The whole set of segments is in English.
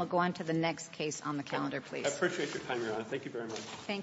23-4066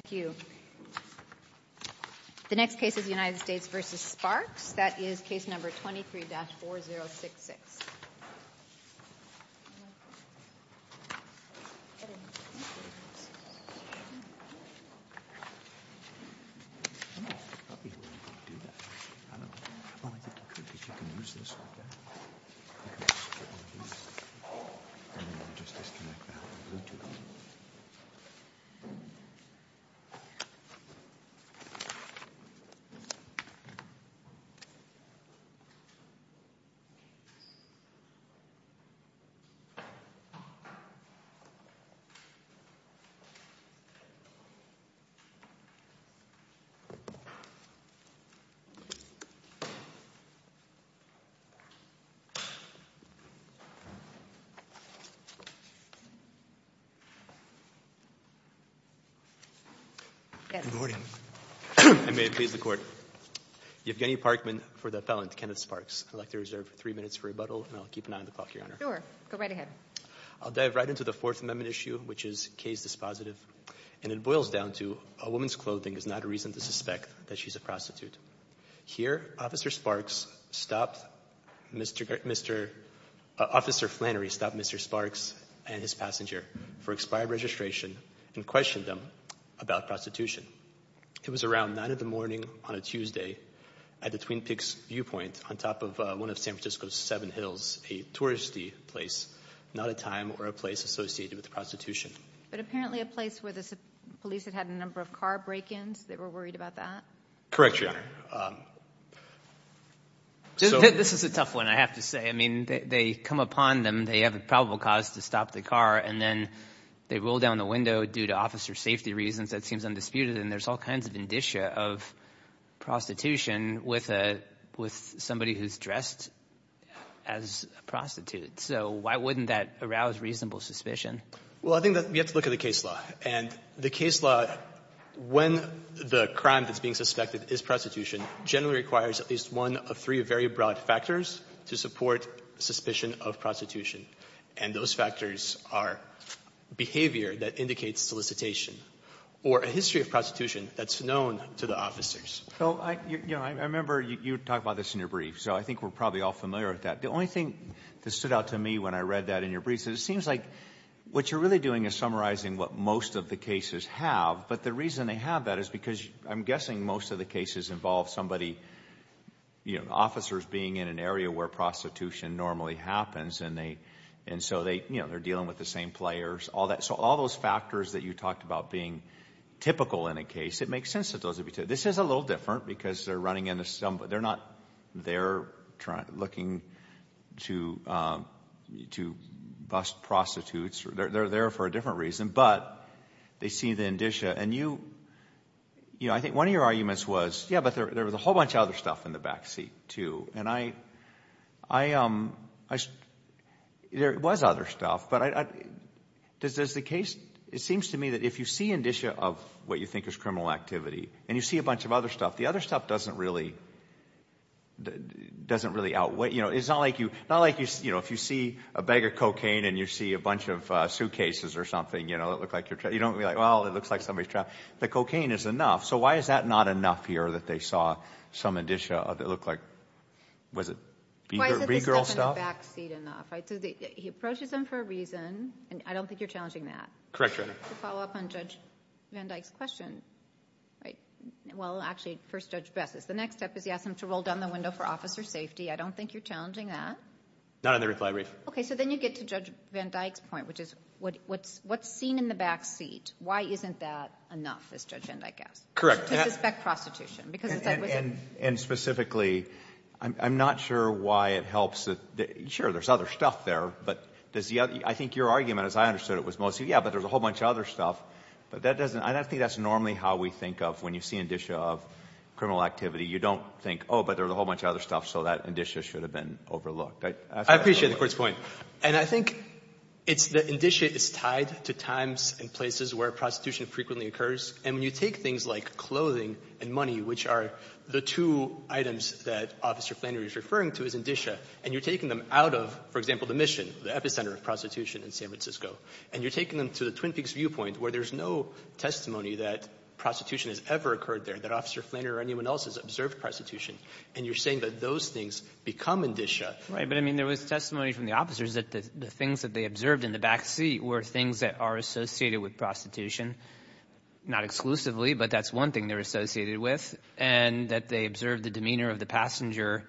Good morning. I may please the court. Yevgeny Parkman for the felon, Kenneth Sparks. I'd like to reserve three minutes for rebuttal, and I'll keep an eye on the clock, Your Honor. Sure. Go right ahead. I'll dive right into the Fourth Amendment issue, which is Kay's dispositive. And it boils down to, a woman's clothing is not a reason to suspect that she's a prostitute. Here, Officer Flannery stopped Mr. Sparks and his passenger for expired registration and questioned them about prostitution. It was around 9 a.m. on a Tuesday at the Twin Peaks Viewpoint on top of one of San Francisco's Seven Hills, a touristy place, not a time or a place associated with prostitution. But apparently a place where the police had had a number of car break-ins. They were worried about that? Correct, Your Honor. This is a tough one, I have to say. I mean, they come upon them. They have a probable cause to stop the car, and then they roll down the window due to officer safety reasons. That seems undisputed. And there's all kinds of indicia of prostitution with somebody who's dressed as a prostitute. So why wouldn't that arouse reasonable suspicion? Well, I think that we have to look at the case law. And the case law, when the crime that's being suspected is prostitution, generally requires at least one of three very broad factors to support suspicion of prostitution. And those factors are behavior that indicates solicitation or a history of prostitution that's known to the officers. I remember you talked about this in your brief, so I think we're probably all familiar with that. The only thing that stood out to me when I read that in your brief is it seems like what you're really doing is summarizing what most of the cases have. But the reason they have that is because I'm guessing most of the cases involve somebody, officers being in an area where prostitution normally happens. And so they're dealing with the same players, all that. So all those factors that you talked about being typical in a case, it makes sense that those would be typical. This is a little different because they're not there looking to bust prostitutes. They're there for a different reason, but they see the indicia. And I think one of your arguments was, yeah, but there was a whole bunch of other stuff in the backseat too. And I, there was other stuff. But does the case, it seems to me that if you see indicia of what you think is criminal activity and you see a bunch of other stuff, the other stuff doesn't really outweigh. It's not like if you see a bag of cocaine and you see a bunch of suitcases or something that look like you're, you don't be like, well, it looks like somebody's trapped. The cocaine is enough. So why is that not enough here that they saw some indicia that looked like, was it regal stuff? Why isn't the stuff in the backseat enough? He approaches them for a reason, and I don't think you're challenging that. Correct, Your Honor. To follow up on Judge Van Dyke's question. Well, actually, first Judge Bess is. The next step is he asks them to roll down the window for officer safety. I don't think you're challenging that. Not under reclaimation. Okay, so then you get to Judge Van Dyke's point, which is what's seen in the backseat. Why isn't that enough, as Judge Van Dyke asked? Correct. To suspect prostitution. And specifically, I'm not sure why it helps. Sure, there's other stuff there, but I think your argument, as I understood it, was mostly, yeah, but there's a whole bunch of other stuff. But I don't think that's normally how we think of when you see indicia of criminal activity. You don't think, oh, but there's a whole bunch of other stuff, so that indicia should have been overlooked. I appreciate the Court's point. And I think it's that indicia is tied to times and places where prostitution frequently occurs. And when you take things like clothing and money, which are the two items that Officer Flannery is referring to as indicia, and you're taking them out of, for example, the mission, the epicenter of prostitution in San Francisco, and you're taking them to the Twin Peaks viewpoint where there's no testimony that prostitution has ever occurred there, that Officer Flannery or anyone else has observed prostitution, and you're saying that those things become indicia. Right. But, I mean, there was testimony from the officers that the things that they observed in the back seat were things that are associated with prostitution, not exclusively, but that's one thing they're associated with, and that they observed the demeanor of the passenger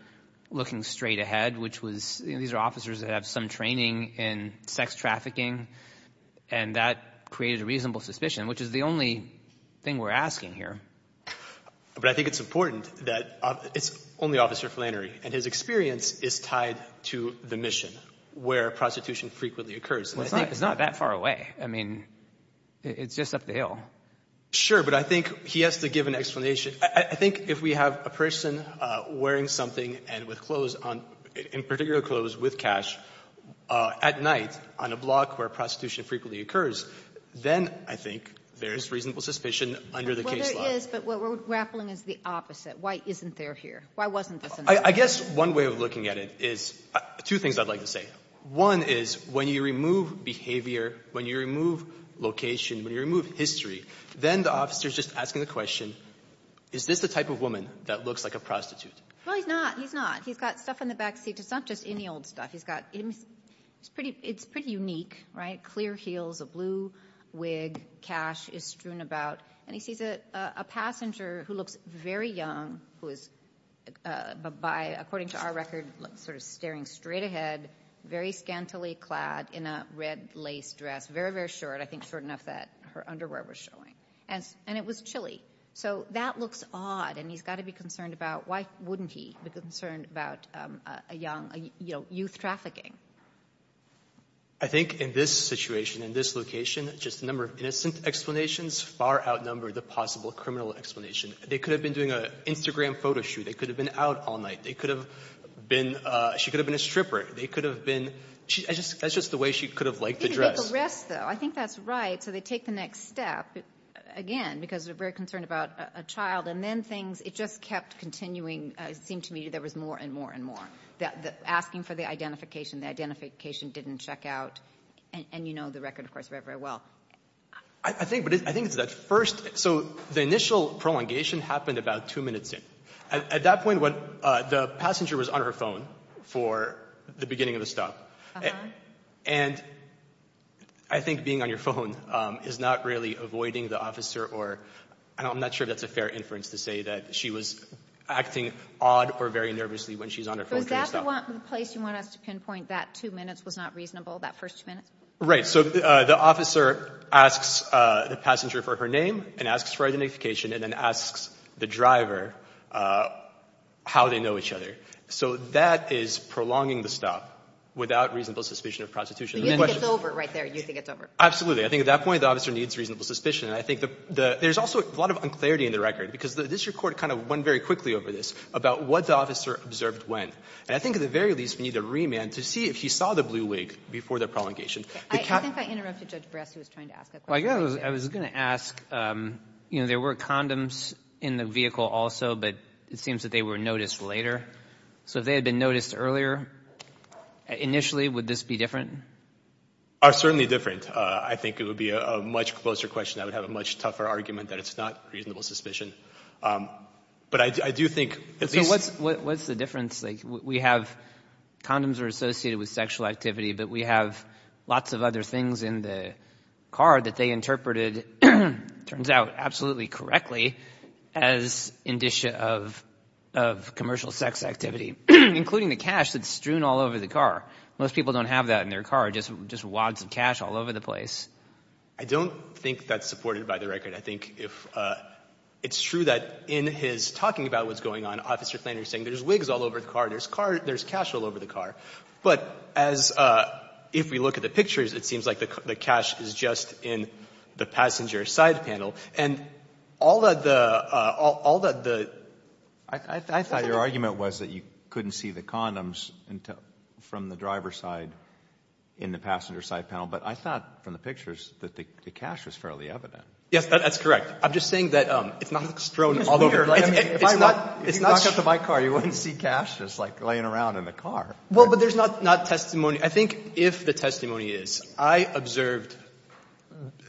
looking straight ahead, which was, you know, these are officers that have some training in sex trafficking, and that created a reasonable suspicion, which is the only thing we're asking here. But I think it's important that it's only Officer Flannery, and his experience is tied to the mission where prostitution frequently occurs. Well, it's not that far away. I mean, it's just up the hill. Sure. But I think he has to give an explanation. I think if we have a person wearing something and with clothes on, in particular clothes with cash, at night on a block where prostitution frequently occurs, then I think there's reasonable suspicion under the case law. Well, there is, but what we're grappling is the opposite. Why isn't there here? Why wasn't this in the case? I guess one way of looking at it is two things I'd like to say. One is when you remove behavior, when you remove location, when you remove history, then the officer is just asking the question, is this the type of woman that looks like a prostitute? Well, he's not. He's not. He's got stuff in the back seat. It's not just any old stuff. It's pretty unique, right? Clear heels, a blue wig, cash is strewn about. And he sees a passenger who looks very young, who is, according to our record, sort of staring straight ahead, very scantily clad in a red lace dress, very, very short, I think short enough that her underwear was showing. And it was chilly. So that looks odd, and he's got to be concerned about, why wouldn't he be concerned about a young, you know, youth trafficking? I think in this situation, in this location, just a number of innocent explanations far outnumber the possible criminal explanation. They could have been doing an Instagram photo shoot. They could have been out all night. They could have been ‑‑ she could have been a stripper. They could have been ‑‑ that's just the way she could have liked to dress. I think that's right. So they take the next step, again, because they're very concerned about a child. And then things ‑‑ it just kept continuing. It seemed to me there was more and more and more, asking for the identification. The identification didn't check out. And you know the record, of course, very, very well. I think it's that first ‑‑ so the initial prolongation happened about two minutes in. At that point, the passenger was on her phone for the beginning of the stop. And I think being on your phone is not really avoiding the officer or ‑‑ I'm not sure that's a fair inference to say that she was acting odd or very nervously when she's on her phone. So is that the place you want us to pinpoint, that two minutes was not reasonable, that first two minutes? Right. So the officer asks the passenger for her name and asks for identification and then asks the driver how they know each other. So that is prolonging the stop without reasonable suspicion of prostitution. But you think it's over right there. You think it's over. Absolutely. I think at that point the officer needs reasonable suspicion. And I think there's also a lot of unclarity in the record, because this record kind of went very quickly over this, about what the officer observed when. And I think at the very least we need a remand to see if he saw the blue wig before the prolongation. I think I interrupted Judge Brest who was trying to ask a question. I was going to ask, you know, there were condoms in the vehicle also, but it seems that they were noticed later. So if they had been noticed earlier, initially would this be different? Certainly different. I think it would be a much closer question. I would have a much tougher argument that it's not reasonable suspicion. But I do think at least. So what's the difference? We have condoms are associated with sexual activity, but we have lots of other things in the car that they interpreted, it turns out, absolutely correctly as indicia of commercial sex activity, including the cash that's strewn all over the car. Most people don't have that in their car, just wads of cash all over the place. I don't think that's supported by the record. I think if it's true that in his talking about what's going on, Officer Klainer is saying there's wigs all over the car, there's cash all over the car. But as if we look at the pictures, it seems like the cash is just in the passenger side panel. And all that the... I thought your argument was that you couldn't see the condoms from the driver's side in the passenger side panel. But I thought from the pictures that the cash was fairly evident. Yes, that's correct. I'm just saying that it's not strewn all over. I mean, if you knock out the bike car, you wouldn't see cash just, like, laying around in the car. Well, but there's not testimony. I think if the testimony is, I observed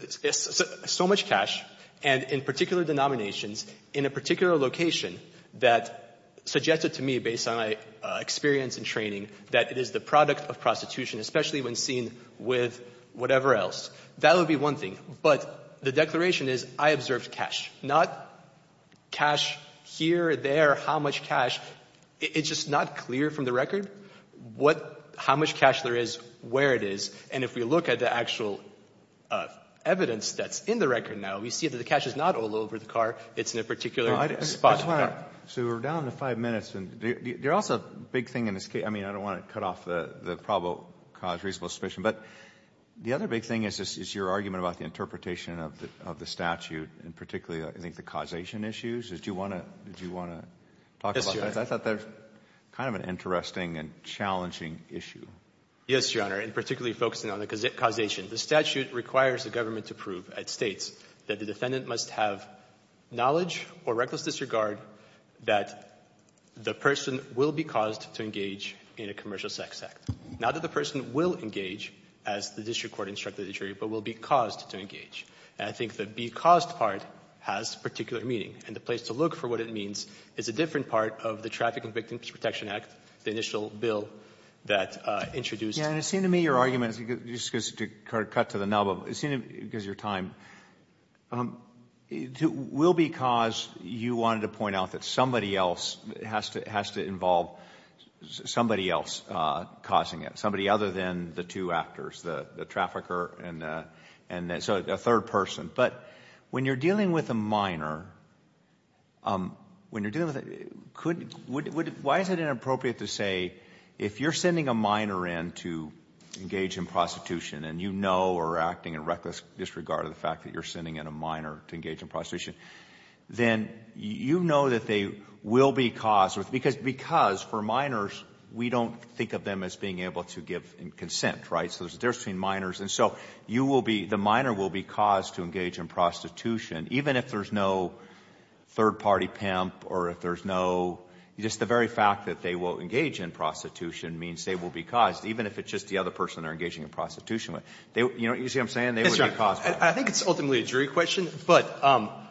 so much cash and in particular denominations in a particular location that suggested to me, based on my experience and training, that it is the product of prostitution, especially when seen with whatever else. That would be one thing. But the declaration is, I observed cash, not cash here, there, how much cash. It's just not clear from the record how much cash there is, where it is. And if we look at the actual evidence that's in the record now, we see that the cash is not all over the car. It's in a particular spot. So we're down to five minutes. There's also a big thing in this case. I mean, I don't want to cut off the probable cause reasonable suspicion. But the other big thing is your argument about the interpretation of the statute, and particularly, I think, the causation issues. Did you want to talk about that? I thought that was kind of an interesting and challenging issue. Yes, Your Honor, and particularly focusing on the causation. The statute requires the government to prove at States that the defendant must have knowledge or reckless disregard that the person will be caused to engage in a commercial sex act. Not that the person will engage, as the district court instructed the jury, but will be caused to engage. And I think the be caused part has particular meaning. And the place to look for what it means is a different part of the Traffic and Victims Protection Act, the initial bill that introduced. Yes, and it seemed to me your argument, just to cut to the nub of, it seemed to me, because of your time, will be caused, you wanted to point out that somebody else has to involve, somebody else causing it. Somebody other than the two actors, the trafficker and a third person. But when you're dealing with a minor, when you're dealing with, why is it inappropriate to say, if you're sending a minor in to engage in prostitution, and you know or are acting in reckless disregard of the fact that you're sending in a minor to engage in prostitution, then you know that they will be caused. Because for minors, we don't think of them as being able to give consent, right? So there's a difference between minors. And so you will be, the minor will be caused to engage in prostitution, even if there's no third party pimp or if there's no, just the very fact that they will engage in prostitution means they will be caused, even if it's just the other person they're engaging in prostitution with. You see what I'm saying? They will be caused by it. I think it's ultimately a jury question, but I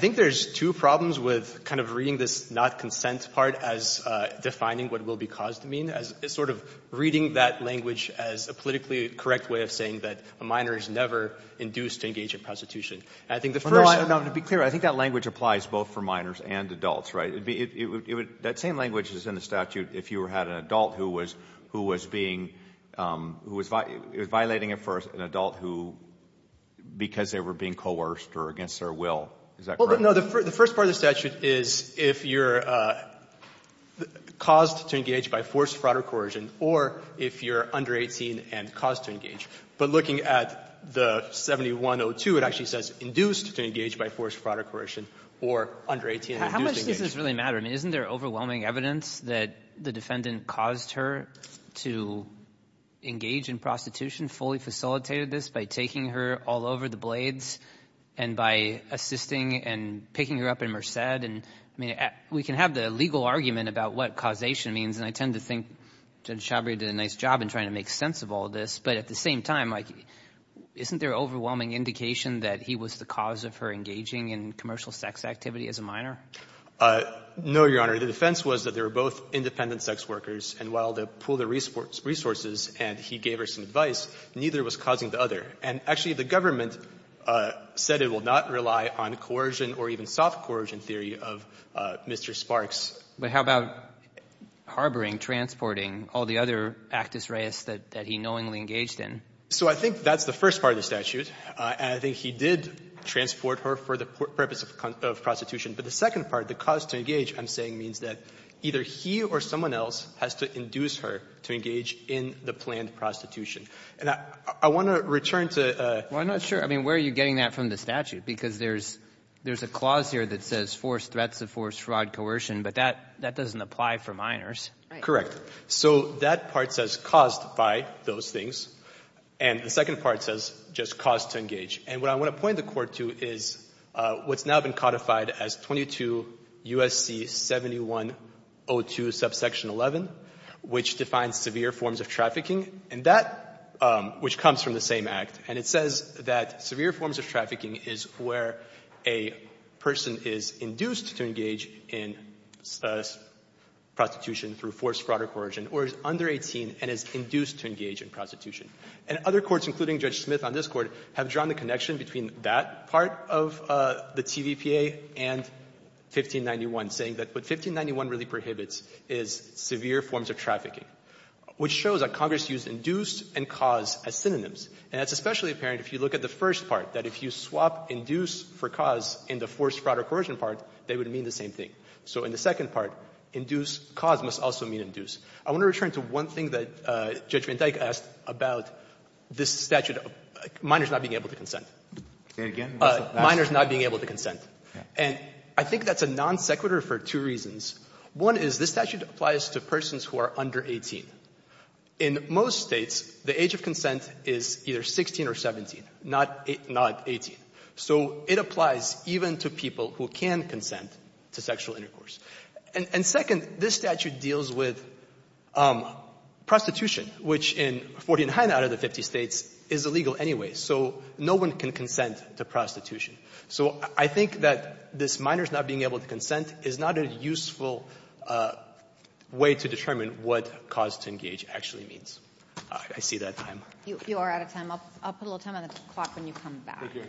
think there's two problems with kind of reading this not consent part as defining what will be caused to mean, as sort of reading that language as a politically correct way of saying that a minor is never induced to engage in prostitution. And I think the first Well, no, to be clear, I think that language applies both for minors and adults, right? It would, that same language is in the statute if you had an adult who was being, who was violating it for an adult who, because they were being coerced or against their will. Is that correct? Well, no. The first part of the statute is if you're caused to engage by forced fraud or coercion or if you're under 18 and caused to engage. But looking at the 7102, it actually says induced to engage by forced fraud or coercion or under 18 and induced to engage. How much does this really matter? I mean, isn't there overwhelming evidence that the defendant caused her to engage in prostitution, fully facilitated this by taking her all over the blades and by assisting and picking her up in Merced? And I mean, we can have the legal argument about what causation means, and I tend to think Judge Chabria did a nice job in trying to make sense of all this. But at the same time, like, isn't there overwhelming indication that he was the cause of her engaging in commercial sex activity as a minor? No, Your Honor. The defense was that they were both independent sex workers, and while they pooled their resources and he gave her some advice, neither was causing the other. And actually, the government said it will not rely on coercion or even soft coercion theory of Mr. Sparks. But how about harboring, transporting all the other actus reus that he knowingly engaged in? So I think that's the first part of the statute, and I think he did transport her for the purpose of prostitution. But the second part, the cause to engage, I'm saying, means that either he or someone else has to induce her to engage in the planned prostitution. And I want to return to the ---- Well, I'm not sure. I mean, where are you getting that from the statute? Because there's a clause here that says forced threats of forced fraud coercion, but that doesn't apply for minors. Correct. So that part says caused by those things. And the second part says just cause to engage. And what I want to point the Court to is what's now been codified as 22 U.S.C. 7102, subsection 11, which defines severe forms of trafficking, and that ---- which comes from the same act. And it says that severe forms of trafficking is where a person is induced to engage in prostitution through forced fraud or coercion or is under 18 and is induced to engage in prostitution. And other courts, including Judge Smith on this Court, have drawn the connection between that part of the TVPA and 1591, saying that what 1591 really prohibits is severe forms of trafficking, which shows that Congress used induced and cause as synonyms. And it's especially apparent if you look at the first part, that if you swap induce for cause in the forced fraud or coercion part, they would mean the same thing. So in the second part, induce cause must also mean induce. I want to return to one thing that Judge Van Dyke asked about this statute of minors not being able to consent. Minors not being able to consent. And I think that's a non sequitur for two reasons. One is this statute applies to persons who are under 18. In most States, the age of consent is either 16 or 17, not 18. So it applies even to people who can consent to sexual intercourse. And second, this statute deals with prostitution, which in 40 and higher out of the 50 States is illegal anyway. So no one can consent to prostitution. So I think that this minors not being able to consent is not a useful way to determine what cause to engage actually means. I see that time. You are out of time. I'll put a little time on the clock when you come back. Thank you.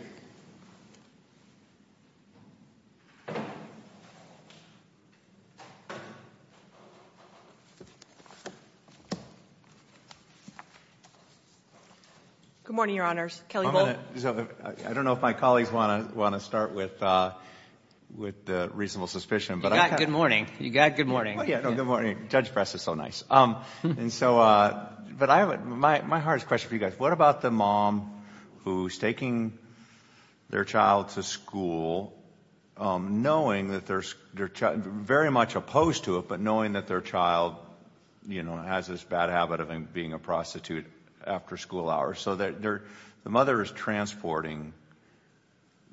Good morning, Your Honors. Kelly Bolton. I don't know if my colleagues want to start with the reasonable suspicion. You got good morning. You got good morning. No, good morning. Judge Press is so nice. But my hardest question for you guys, what about the mom who's taking their child to school knowing that they're very much opposed to it, but knowing that their child has this bad habit of being a prostitute after school hours? So the mother is transporting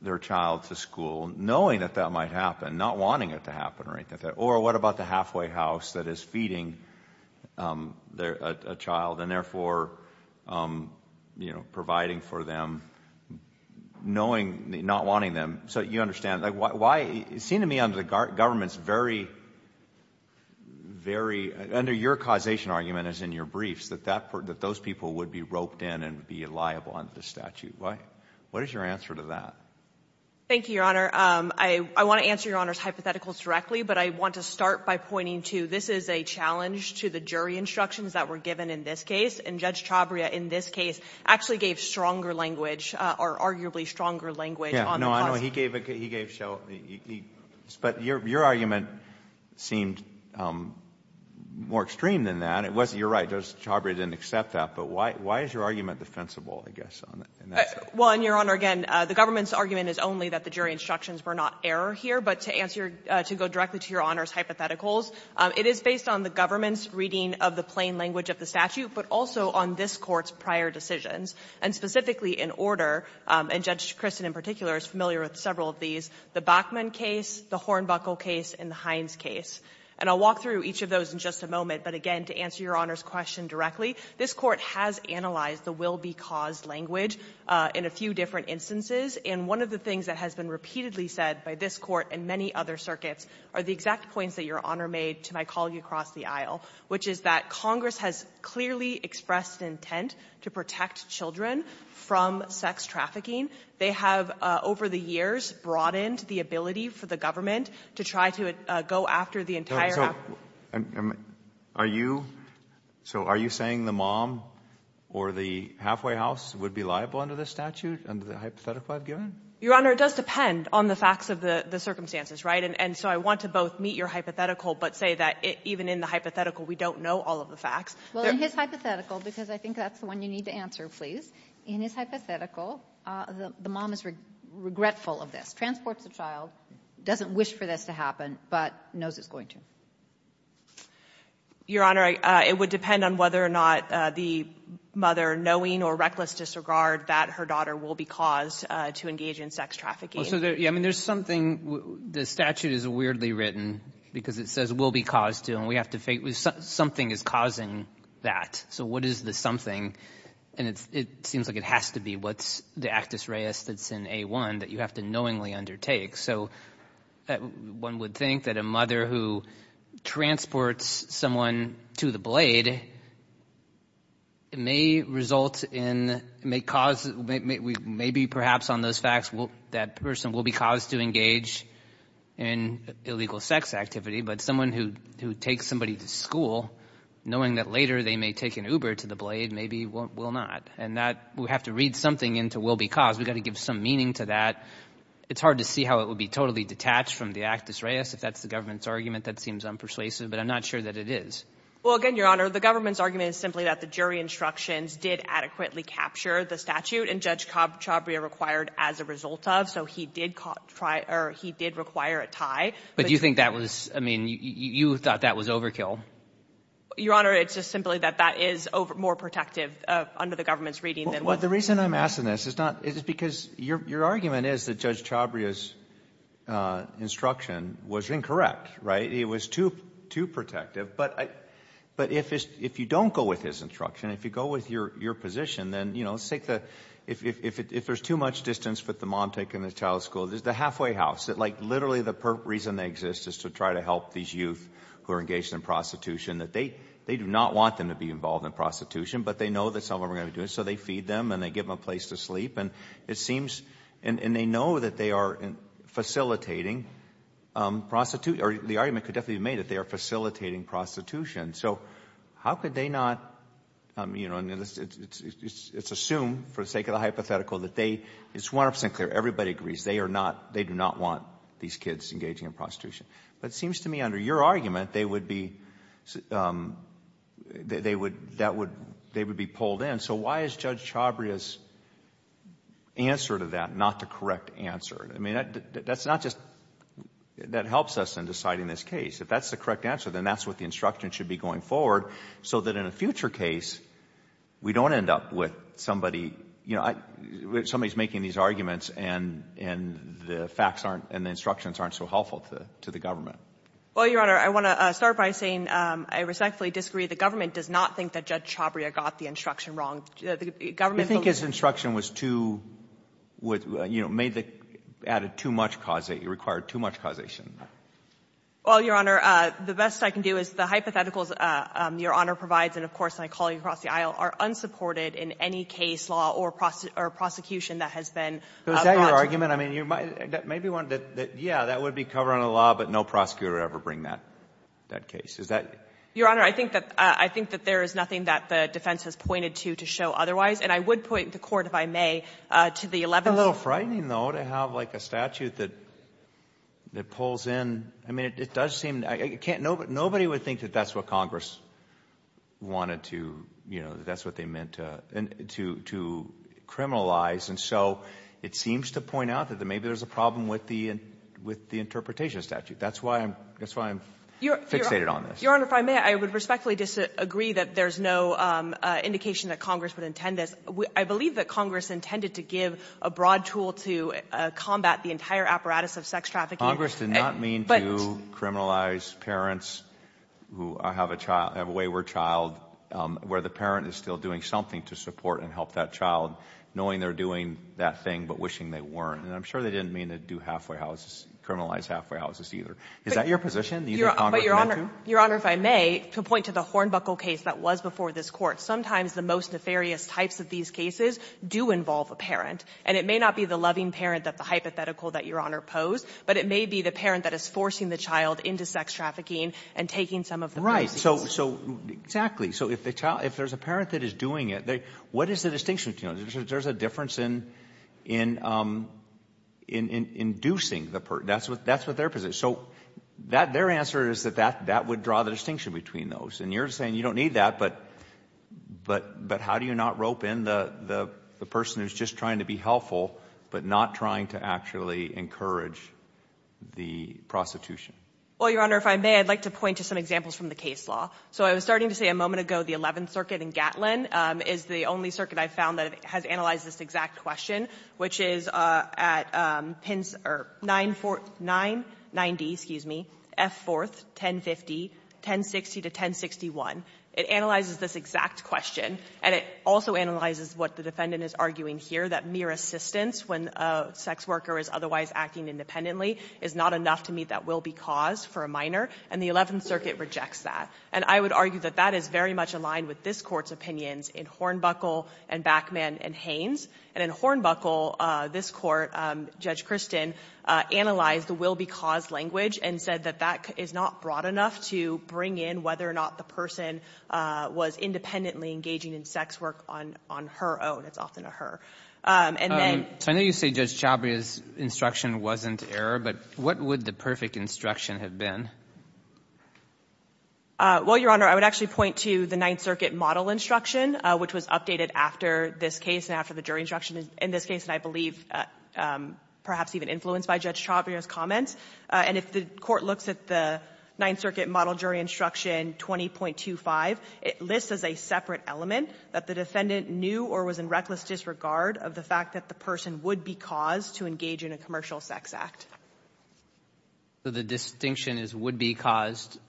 their child to school knowing that that might happen, not wanting it to happen. Or what about the halfway house that is feeding a child and therefore providing for them not wanting them? So you understand. It seemed to me under the government's very, very, under your causation argument as in your briefs, that those people would be roped in and be liable under the statute. What is your answer to that? Thank you, Your Honor. I want to answer Your Honor's hypotheticals directly, but I want to start by pointing to this is a challenge to the jury instructions that were given in this case. And Judge Chabria in this case actually gave stronger language or arguably stronger language on the cause. No, I know. He gave so. But your argument seemed more extreme than that. It wasn't. You're right. Judge Chabria didn't accept that. But why is your argument defensible, I guess, in that sense? Well, Your Honor, again, the government's argument is only that the jury instructions were not error here. But to go directly to Your Honor's hypotheticals, it is based on the government's reading of the plain language of the statute, but also on this Court's prior decisions. And specifically in order, and Judge Christen in particular is familiar with several of these, the Bachman case, the Hornbuckle case, and the Hines case. And I'll walk through each of those in just a moment. But again, to answer Your Honor's question directly, this Court has analyzed the will of the government to protect children from sexual abuse through the use of legal language in a few different instances. And one of the things that has been repeatedly said by this Court and many other circuits are the exact points that Your Honor made to my colleague across the aisle, which is that Congress has clearly expressed intent to protect children from sex trafficking. They have over the years broadened the ability for the government to try to go after the entire — Halfway House would be liable under this statute, under the hypothetical I've given? Your Honor, it does depend on the facts of the circumstances, right? And so I want to both meet your hypothetical but say that even in the hypothetical we don't know all of the facts. Well, in his hypothetical, because I think that's the one you need to answer, please. In his hypothetical, the mom is regretful of this, transports a child, doesn't wish for this to happen, but knows it's going to. Your Honor, it would depend on whether or not the mother, knowing or reckless disregard, that her daughter will be caused to engage in sex trafficking. Well, so there's something — the statute is weirdly written because it says will be caused to, and we have to — something is causing that. So what is the something? And it seems like it has to be what's the actus reus that's in A1 that you have to knowingly undertake. So one would think that a mother who transports someone to the blade may result in — may cause — maybe perhaps on those facts that person will be caused to engage in illegal sex activity, but someone who takes somebody to school, knowing that later they may take an Uber to the blade, maybe will not. And that — we have to read something into will be caused. We've got to give some meaning to that. It's hard to see how it would be totally detached from the actus reus, if that's the government's argument. That seems unpersuasive, but I'm not sure that it is. Well, again, Your Honor, the government's argument is simply that the jury instructions did adequately capture the statute, and Judge Chabria required as a result of. So he did require a tie. But do you think that was — I mean, you thought that was overkill? Your Honor, it's just simply that that is more protective under the government's reading than what — Well, the reason I'm asking this is not — is because your argument is that Judge Chabria's instruction was incorrect, right? It was too protective. But if you don't go with his instruction, if you go with your position, then, you know, let's take the — if there's too much distance with the mom taking the child to school, there's the halfway house. That, like, literally the reason they exist is to try to help these youth who are engaged in prostitution, that they do not want them to be involved in prostitution, but they know that's not what we're going to do. So they feed them and they give them a place to sleep. And it seems — and they know that they are facilitating prostitution — or the argument could definitely be made that they are facilitating prostitution. So how could they not — I mean, you know, it's assumed for the sake of the hypothetical that they — it's 100 percent clear, everybody agrees, they are not — they do not want these kids engaging in prostitution. But it seems to me under your argument, they would be — they would — that would — they would be pulled in. So why is Judge Chabria's answer to that not the correct answer? I mean, that's not just — that helps us in deciding this case. If that's the correct answer, then that's what the instruction should be going forward so that in a future case, we don't end up with somebody — you know, somebody's arguments and the facts aren't — and the instructions aren't so helpful to the government. Well, Your Honor, I want to start by saying I respectfully disagree. The government does not think that Judge Chabria got the instruction wrong. The government — You think his instruction was too — you know, made the — added too much causation — required too much causation? Well, Your Honor, the best I can do is the hypotheticals Your Honor provides, and of course, my colleagues across the aisle, are unsupported in any case law or prosecution that has been brought to — But is that your argument? I mean, you might — maybe you wanted to — yeah, that would be covering a law, but no prosecutor would ever bring that case. Is that — Your Honor, I think that — I think that there is nothing that the defense has pointed to to show otherwise, and I would point the Court, if I may, to the 11th — It's a little frightening, though, to have like a statute that — that pulls in — I mean, it does seem — I can't — nobody would think that that's what Congress wanted to — you know, that that's what they meant to criminalize, and so it seems to point out that maybe there's a problem with the interpretation statute. That's why I'm — that's why I'm fixated on this. Your Honor, if I may, I would respectfully disagree that there's no indication that Congress would intend this. I believe that Congress intended to give a broad tool to combat the entire apparatus of sex trafficking — Congress did not mean to criminalize parents who have a child — have a wayward child where the parent is still doing something to support and help that child, knowing they're doing that thing but wishing they weren't. And I'm sure they didn't mean to do halfway houses — criminalize halfway houses either. Is that your position? These are Congress' — But, Your Honor — Your Honor, if I may, to point to the Hornbuckle case that was before this Court, sometimes the most nefarious types of these cases do involve a parent, and it may not be the loving parent that the hypothetical that Your Honor posed, but it may be the parent that is forcing the child into sex trafficking and taking some of the — Right. So — so — exactly. So if the child — if there's a parent that is doing it, what is the distinction between those? There's a difference in — in — in inducing the — that's what — that's what their position is. So that — their answer is that that — that would draw the distinction between those. And you're saying you don't need that, but — but — but how do you not rope in the person who's just trying to be helpful but not trying to actually encourage the prostitution? Well, Your Honor, if I may, I'd like to point to some examples from the case law. So I was starting to say a moment ago the Eleventh Circuit in Gatlin is the only circuit I found that has analyzed this exact question, which is at pins — or 940 — 990, excuse me, F4, 1050, 1060 to 1061. It analyzes this exact question, and it also analyzes what the defendant is arguing here, that mere assistance when a sex worker is otherwise acting independently is not enough to meet that will-be cause for a minor. And the Eleventh Circuit rejects that. And I would argue that that is very much aligned with this Court's opinions in Hornbuckle and Backman and Haynes. And in Hornbuckle, this Court, Judge Christin, analyzed the will-be-caused language and said that that is not broad enough to bring in whether or not the person was independently engaging in sex work on — on her own. It's often a her. And then — I would say Judge Chabria's instruction wasn't error, but what would the perfect instruction have been? Well, Your Honor, I would actually point to the Ninth Circuit model instruction, which was updated after this case and after the jury instruction in this case, and I believe perhaps even influenced by Judge Chabria's comments. And if the Court looks at the Ninth Circuit model jury instruction 20.25, it lists as a separate element that the defendant knew or was in reckless disregard of the person would-be-caused to engage in a commercial sex act. So the distinction is would-be-caused,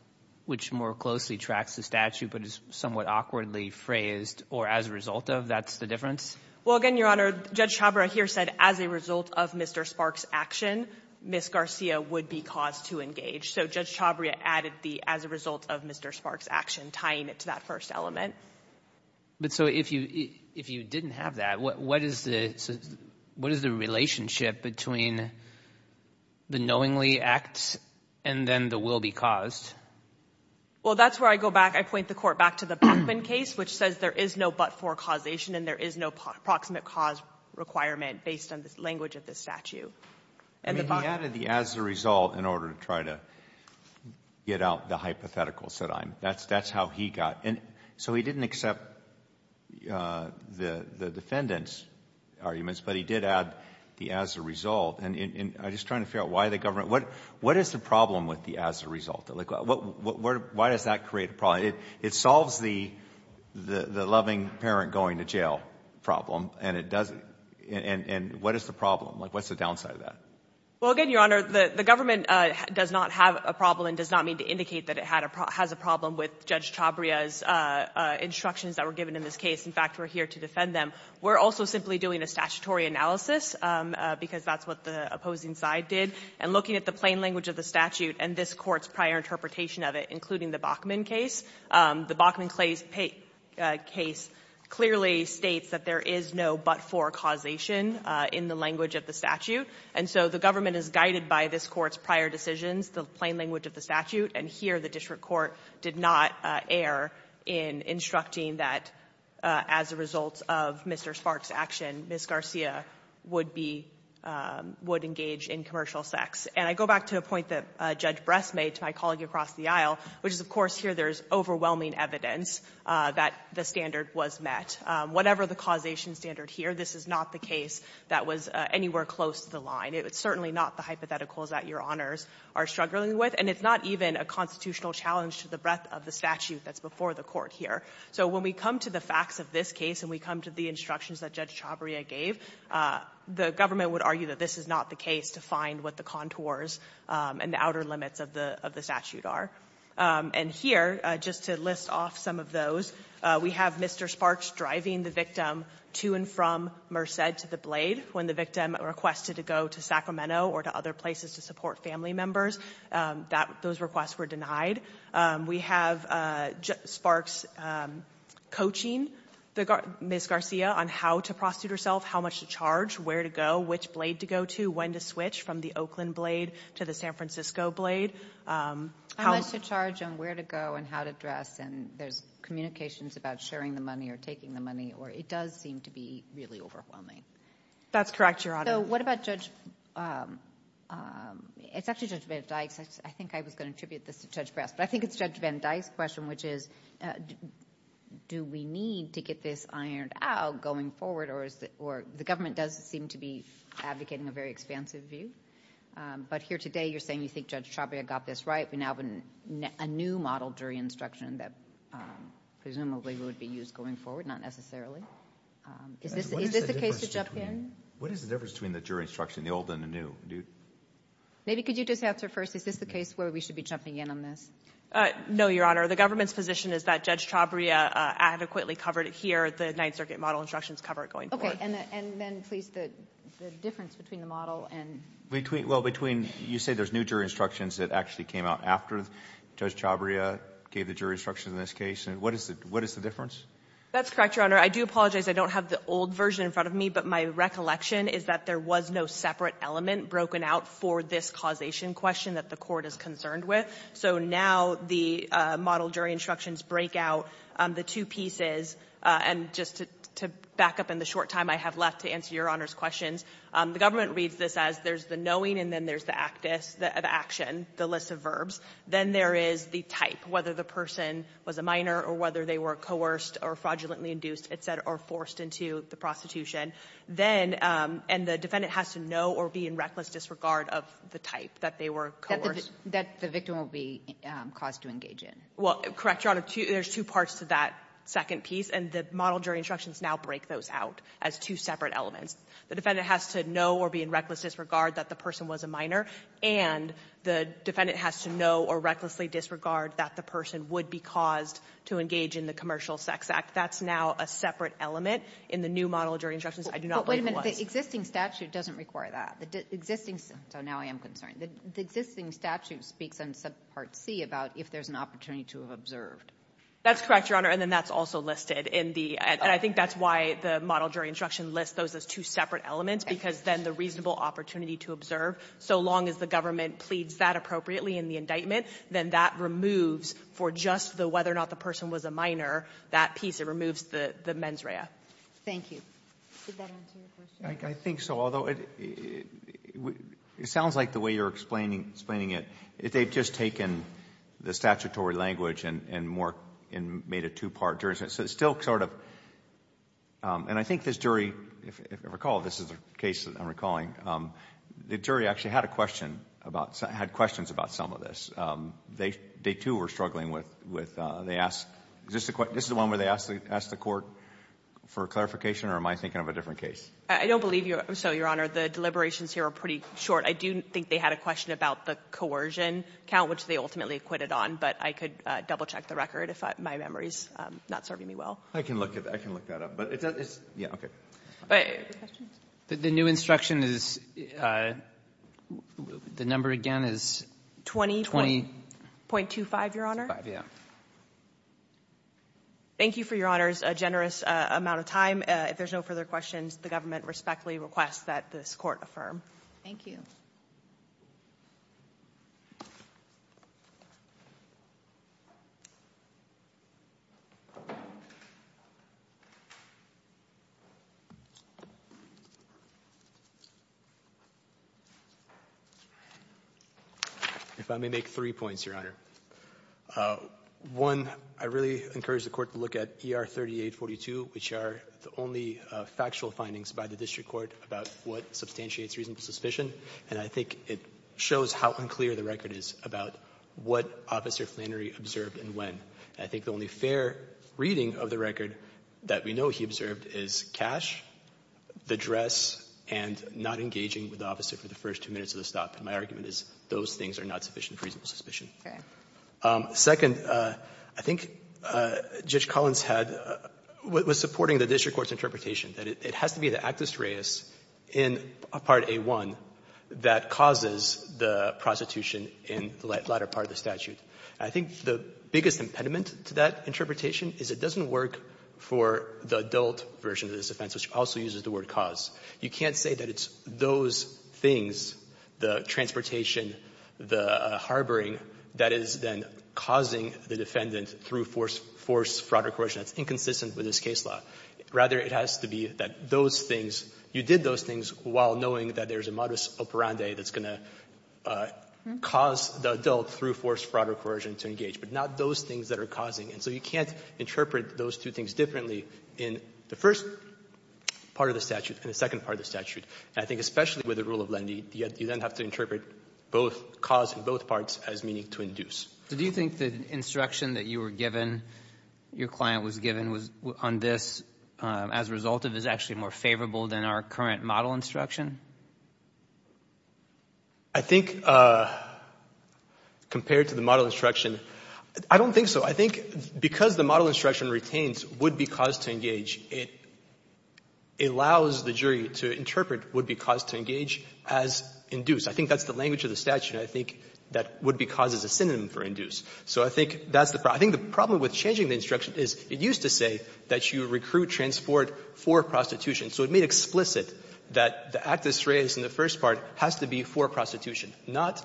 which more closely tracks the statute, but is somewhat awkwardly phrased, or as a result of, that's the difference? Well, again, Your Honor, Judge Chabria here said as a result of Mr. Sparks' action, Ms. Garcia would be caused to engage. So Judge Chabria added the as a result of Mr. Sparks' action, tying it to that first element. But so if you didn't have that, what is the relationship between the knowingly act and then the will-be-caused? Well, that's where I go back. I point the Court back to the Bachman case, which says there is no but-for causation and there is no proximate cause requirement based on the language of the statute. And the Bachman case doesn't. I mean, he added the as a result in order to try to get out the hypotheticals that I'm — that's how he got. And so he didn't accept the defendant's arguments, but he did add the as a result. And I'm just trying to figure out why the government — what is the problem with the as a result? Why does that create a problem? It solves the loving parent going to jail problem, and it doesn't — and what is the problem? Like, what's the downside of that? Well, again, Your Honor, the government does not have a problem and does not mean to indicate that it has a problem with Judge Chabria's instructions that were given in this case. In fact, we're here to defend them. We're also simply doing a statutory analysis, because that's what the opposing side did, and looking at the plain language of the statute and this Court's prior interpretation of it, including the Bachman case. The Bachman case clearly states that there is no but-for causation in the language of the statute. And so the government is guided by this Court's prior decisions, the plain language of the statute, and here the district court did not err in instructing that as a result of Mr. Sparks' action, Ms. Garcia would be — would engage in commercial sex. And I go back to a point that Judge Bress made to my colleague across the aisle, which is, of course, here there is overwhelming evidence that the standard was met. Whatever the causation standard here, this is not the case that was anywhere close to the line. It's certainly not the hypotheticals that Your Honors are struggling with. And it's not even a constitutional challenge to the breadth of the statute that's before the Court here. So when we come to the facts of this case and we come to the instructions that Judge Chabria gave, the government would argue that this is not the case to find what the contours and the outer limits of the statute are. And here, just to list off some of those, we have Mr. Sparks driving the victim to and from Merced to the Blade when the victim requested to go to Sacramento or to other places to support family members. Those requests were denied. We have Sparks coaching Ms. Garcia on how to prostitute herself, how much to charge, where to go, which Blade to go to, when to switch from the Oakland Blade to the San Francisco Blade. How much to charge on where to go and how to dress, and there's communications about sharing the money or taking the money, or it does seem to be really overwhelming. That's correct, Your Honor. So what about Judge... it's actually Judge Van Dyke's. I think I was going to attribute this to Judge Brass, but I think it's Judge Van Dyke's question, which is do we need to get this ironed out going forward, or the government does seem to be advocating a very expansive view. But here today, you're saying you think Judge Chabria got this right. We now have a new model jury instruction that presumably would be used going forward, not necessarily. Is this a case to jump in? What is the difference between the jury instruction, the old and the new? Maybe could you just answer first, is this the case where we should be jumping in on this? No, Your Honor. The government's position is that Judge Chabria adequately covered it here. The Ninth Circuit model instructions cover it going forward. Okay, and then please, the difference between the model and... Well, between... you say there's new jury instructions that actually came out after Judge Chabria gave the jury instructions in this case, and what is the difference? That's correct, Your Honor. I do apologize I don't have the old version in front of me, but my recollection is that there was no separate element broken out for this causation question that the Court is concerned with. So now the model jury instructions break out the two pieces, and just to back up in the short time I have left to answer Your Honor's questions, the government reads this as there's the knowing and then there's the actus, the action, the list of verbs. Then there is the type, whether the person was a minor or whether they were coerced or fraudulently induced, et cetera, or forced into the prostitution. Then, and the defendant has to know or be in reckless disregard of the type, that they were coerced. That the victim will be caused to engage in. Well, correct, Your Honor, there's two parts to that second piece, and the model jury instructions now break those out as two separate elements. The defendant has to know or be in reckless disregard that the person was a minor, and the defendant has to know or recklessly disregard that the person would be caused to engage in the commercial sex act. That's now a separate element in the new model jury instructions. I do not believe it was. But wait a minute, the existing statute doesn't require that. The existing, so now I am concerned. The existing statute speaks on subpart C about if there's an opportunity to have observed. That's correct, Your Honor, and then that's also listed in the, and I think that's why the model jury instruction lists those as two separate elements. Because then the reasonable opportunity to observe, so long as the government pleads that appropriately in the indictment, then that removes, for just the whether or not the person was a minor, that piece. It removes the mens rea. Thank you. Did that answer your question? I think so. Although, it sounds like the way you're explaining it, they've just taken the statutory language and made it two-part. So it's still sort of, and I think this jury, if I recall, this is a case that I'm recalling, the jury actually had a question about, had questions about some of this. They too were struggling with, they asked, is this the one where they asked the court for clarification or am I thinking of a different case? I don't believe so, Your Honor. The deliberations here are pretty short. I do think they had a question about the coercion count, which they ultimately quitted on, but I could double-check the record if my memory is not serving me well. I can look that up. But it's, yeah, okay. The question? The new instruction is, the number again is 20. 20.25, Your Honor. 25, yeah. Thank you for Your Honor's generous amount of time. If there's no further questions, the government respectfully requests that this court affirm. Thank you. If I may make three points, Your Honor. One, I really encourage the court to look at ER 3842, which are the only factual findings by the district court about what substantiates reasonable suspicion. And I think it shows how unclear the record is about what Officer Flannery observed and when. I think the only fair reading of the record that we know he observed is cash, the dress, and not engaging with the officer for the first two minutes of the stop. And my argument is those things are not sufficient for reasonable suspicion. Second, I think Judge Collins had, was supporting the district court's interpretation that it has to be the actus reus in Part A1 that causes the prostitution in the latter part of the statute. And I think the biggest impediment to that interpretation is it doesn't work for the adult version of this offense, which also uses the word cause. You can't say that it's those things, the transportation, the harboring, that is then causing the defendant through forced fraud or coercion that's inconsistent with this case law. Rather, it has to be that those things, you did those things while knowing that there's a modus operandi that's going to cause the adult through forced fraud or coercion to engage, but not those things that are causing. And so you can't interpret those two things differently in the first part of the statute and the second part of the statute. And I think especially with the rule of leniency, you then have to interpret both cause and both parts as meaning to induce. So do you think the instruction that you were given, your client was given on this as a result of this is actually more favorable than our current model instruction? I think compared to the model instruction, I don't think so. I think because the model instruction retains would-be cause to engage, it allows the jury to interpret would-be cause to engage as induced. I think that's the language of the statute. And I think that would-be cause is a synonym for induce. So I think that's the problem. I think the problem with changing the instruction is it used to say that you recruit transport for prostitution, so it made explicit that the act that's raised in the first part has to be for prostitution, not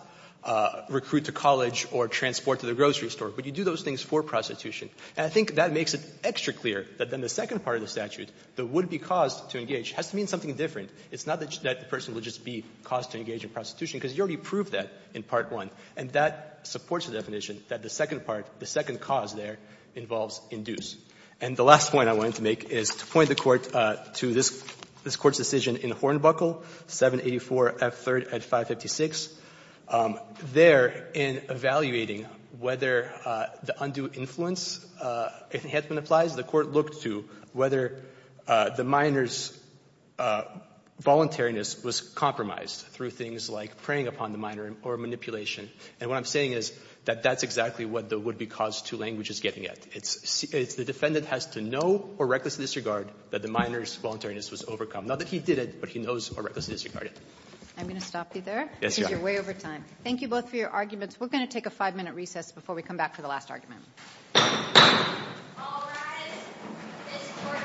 recruit to college or transport to the grocery store, but you do those things for prostitution. And I think that makes it extra clear that then the second part of the statute, the would-be cause to engage, has to mean something different. It's not that the person will just be caused to engage in prostitution, because you already proved that in Part 1. And that supports the definition that the second part, the second cause there, involves induce. And the last point I wanted to make is to point the Court to this Court's decision in Hornbuckle, 784F3rd at 556. There, in evaluating whether the undue influence enhancement applies, the Court looked to whether the minor's voluntariness was compromised through things like preying upon the minor or manipulation. And what I'm saying is that that's exactly what the would-be cause to language is getting at. It's the defendant has to know or recklessly disregard that the minor's voluntariness was overcome. Not that he did it, but he knows or recklessly disregarded it. I'm going to stop you there. Yes, Your Honor. Because you're way over time. Thank you both for your arguments. We're going to take a five-minute recess before we come back for the last argument. All rise. This Court stands...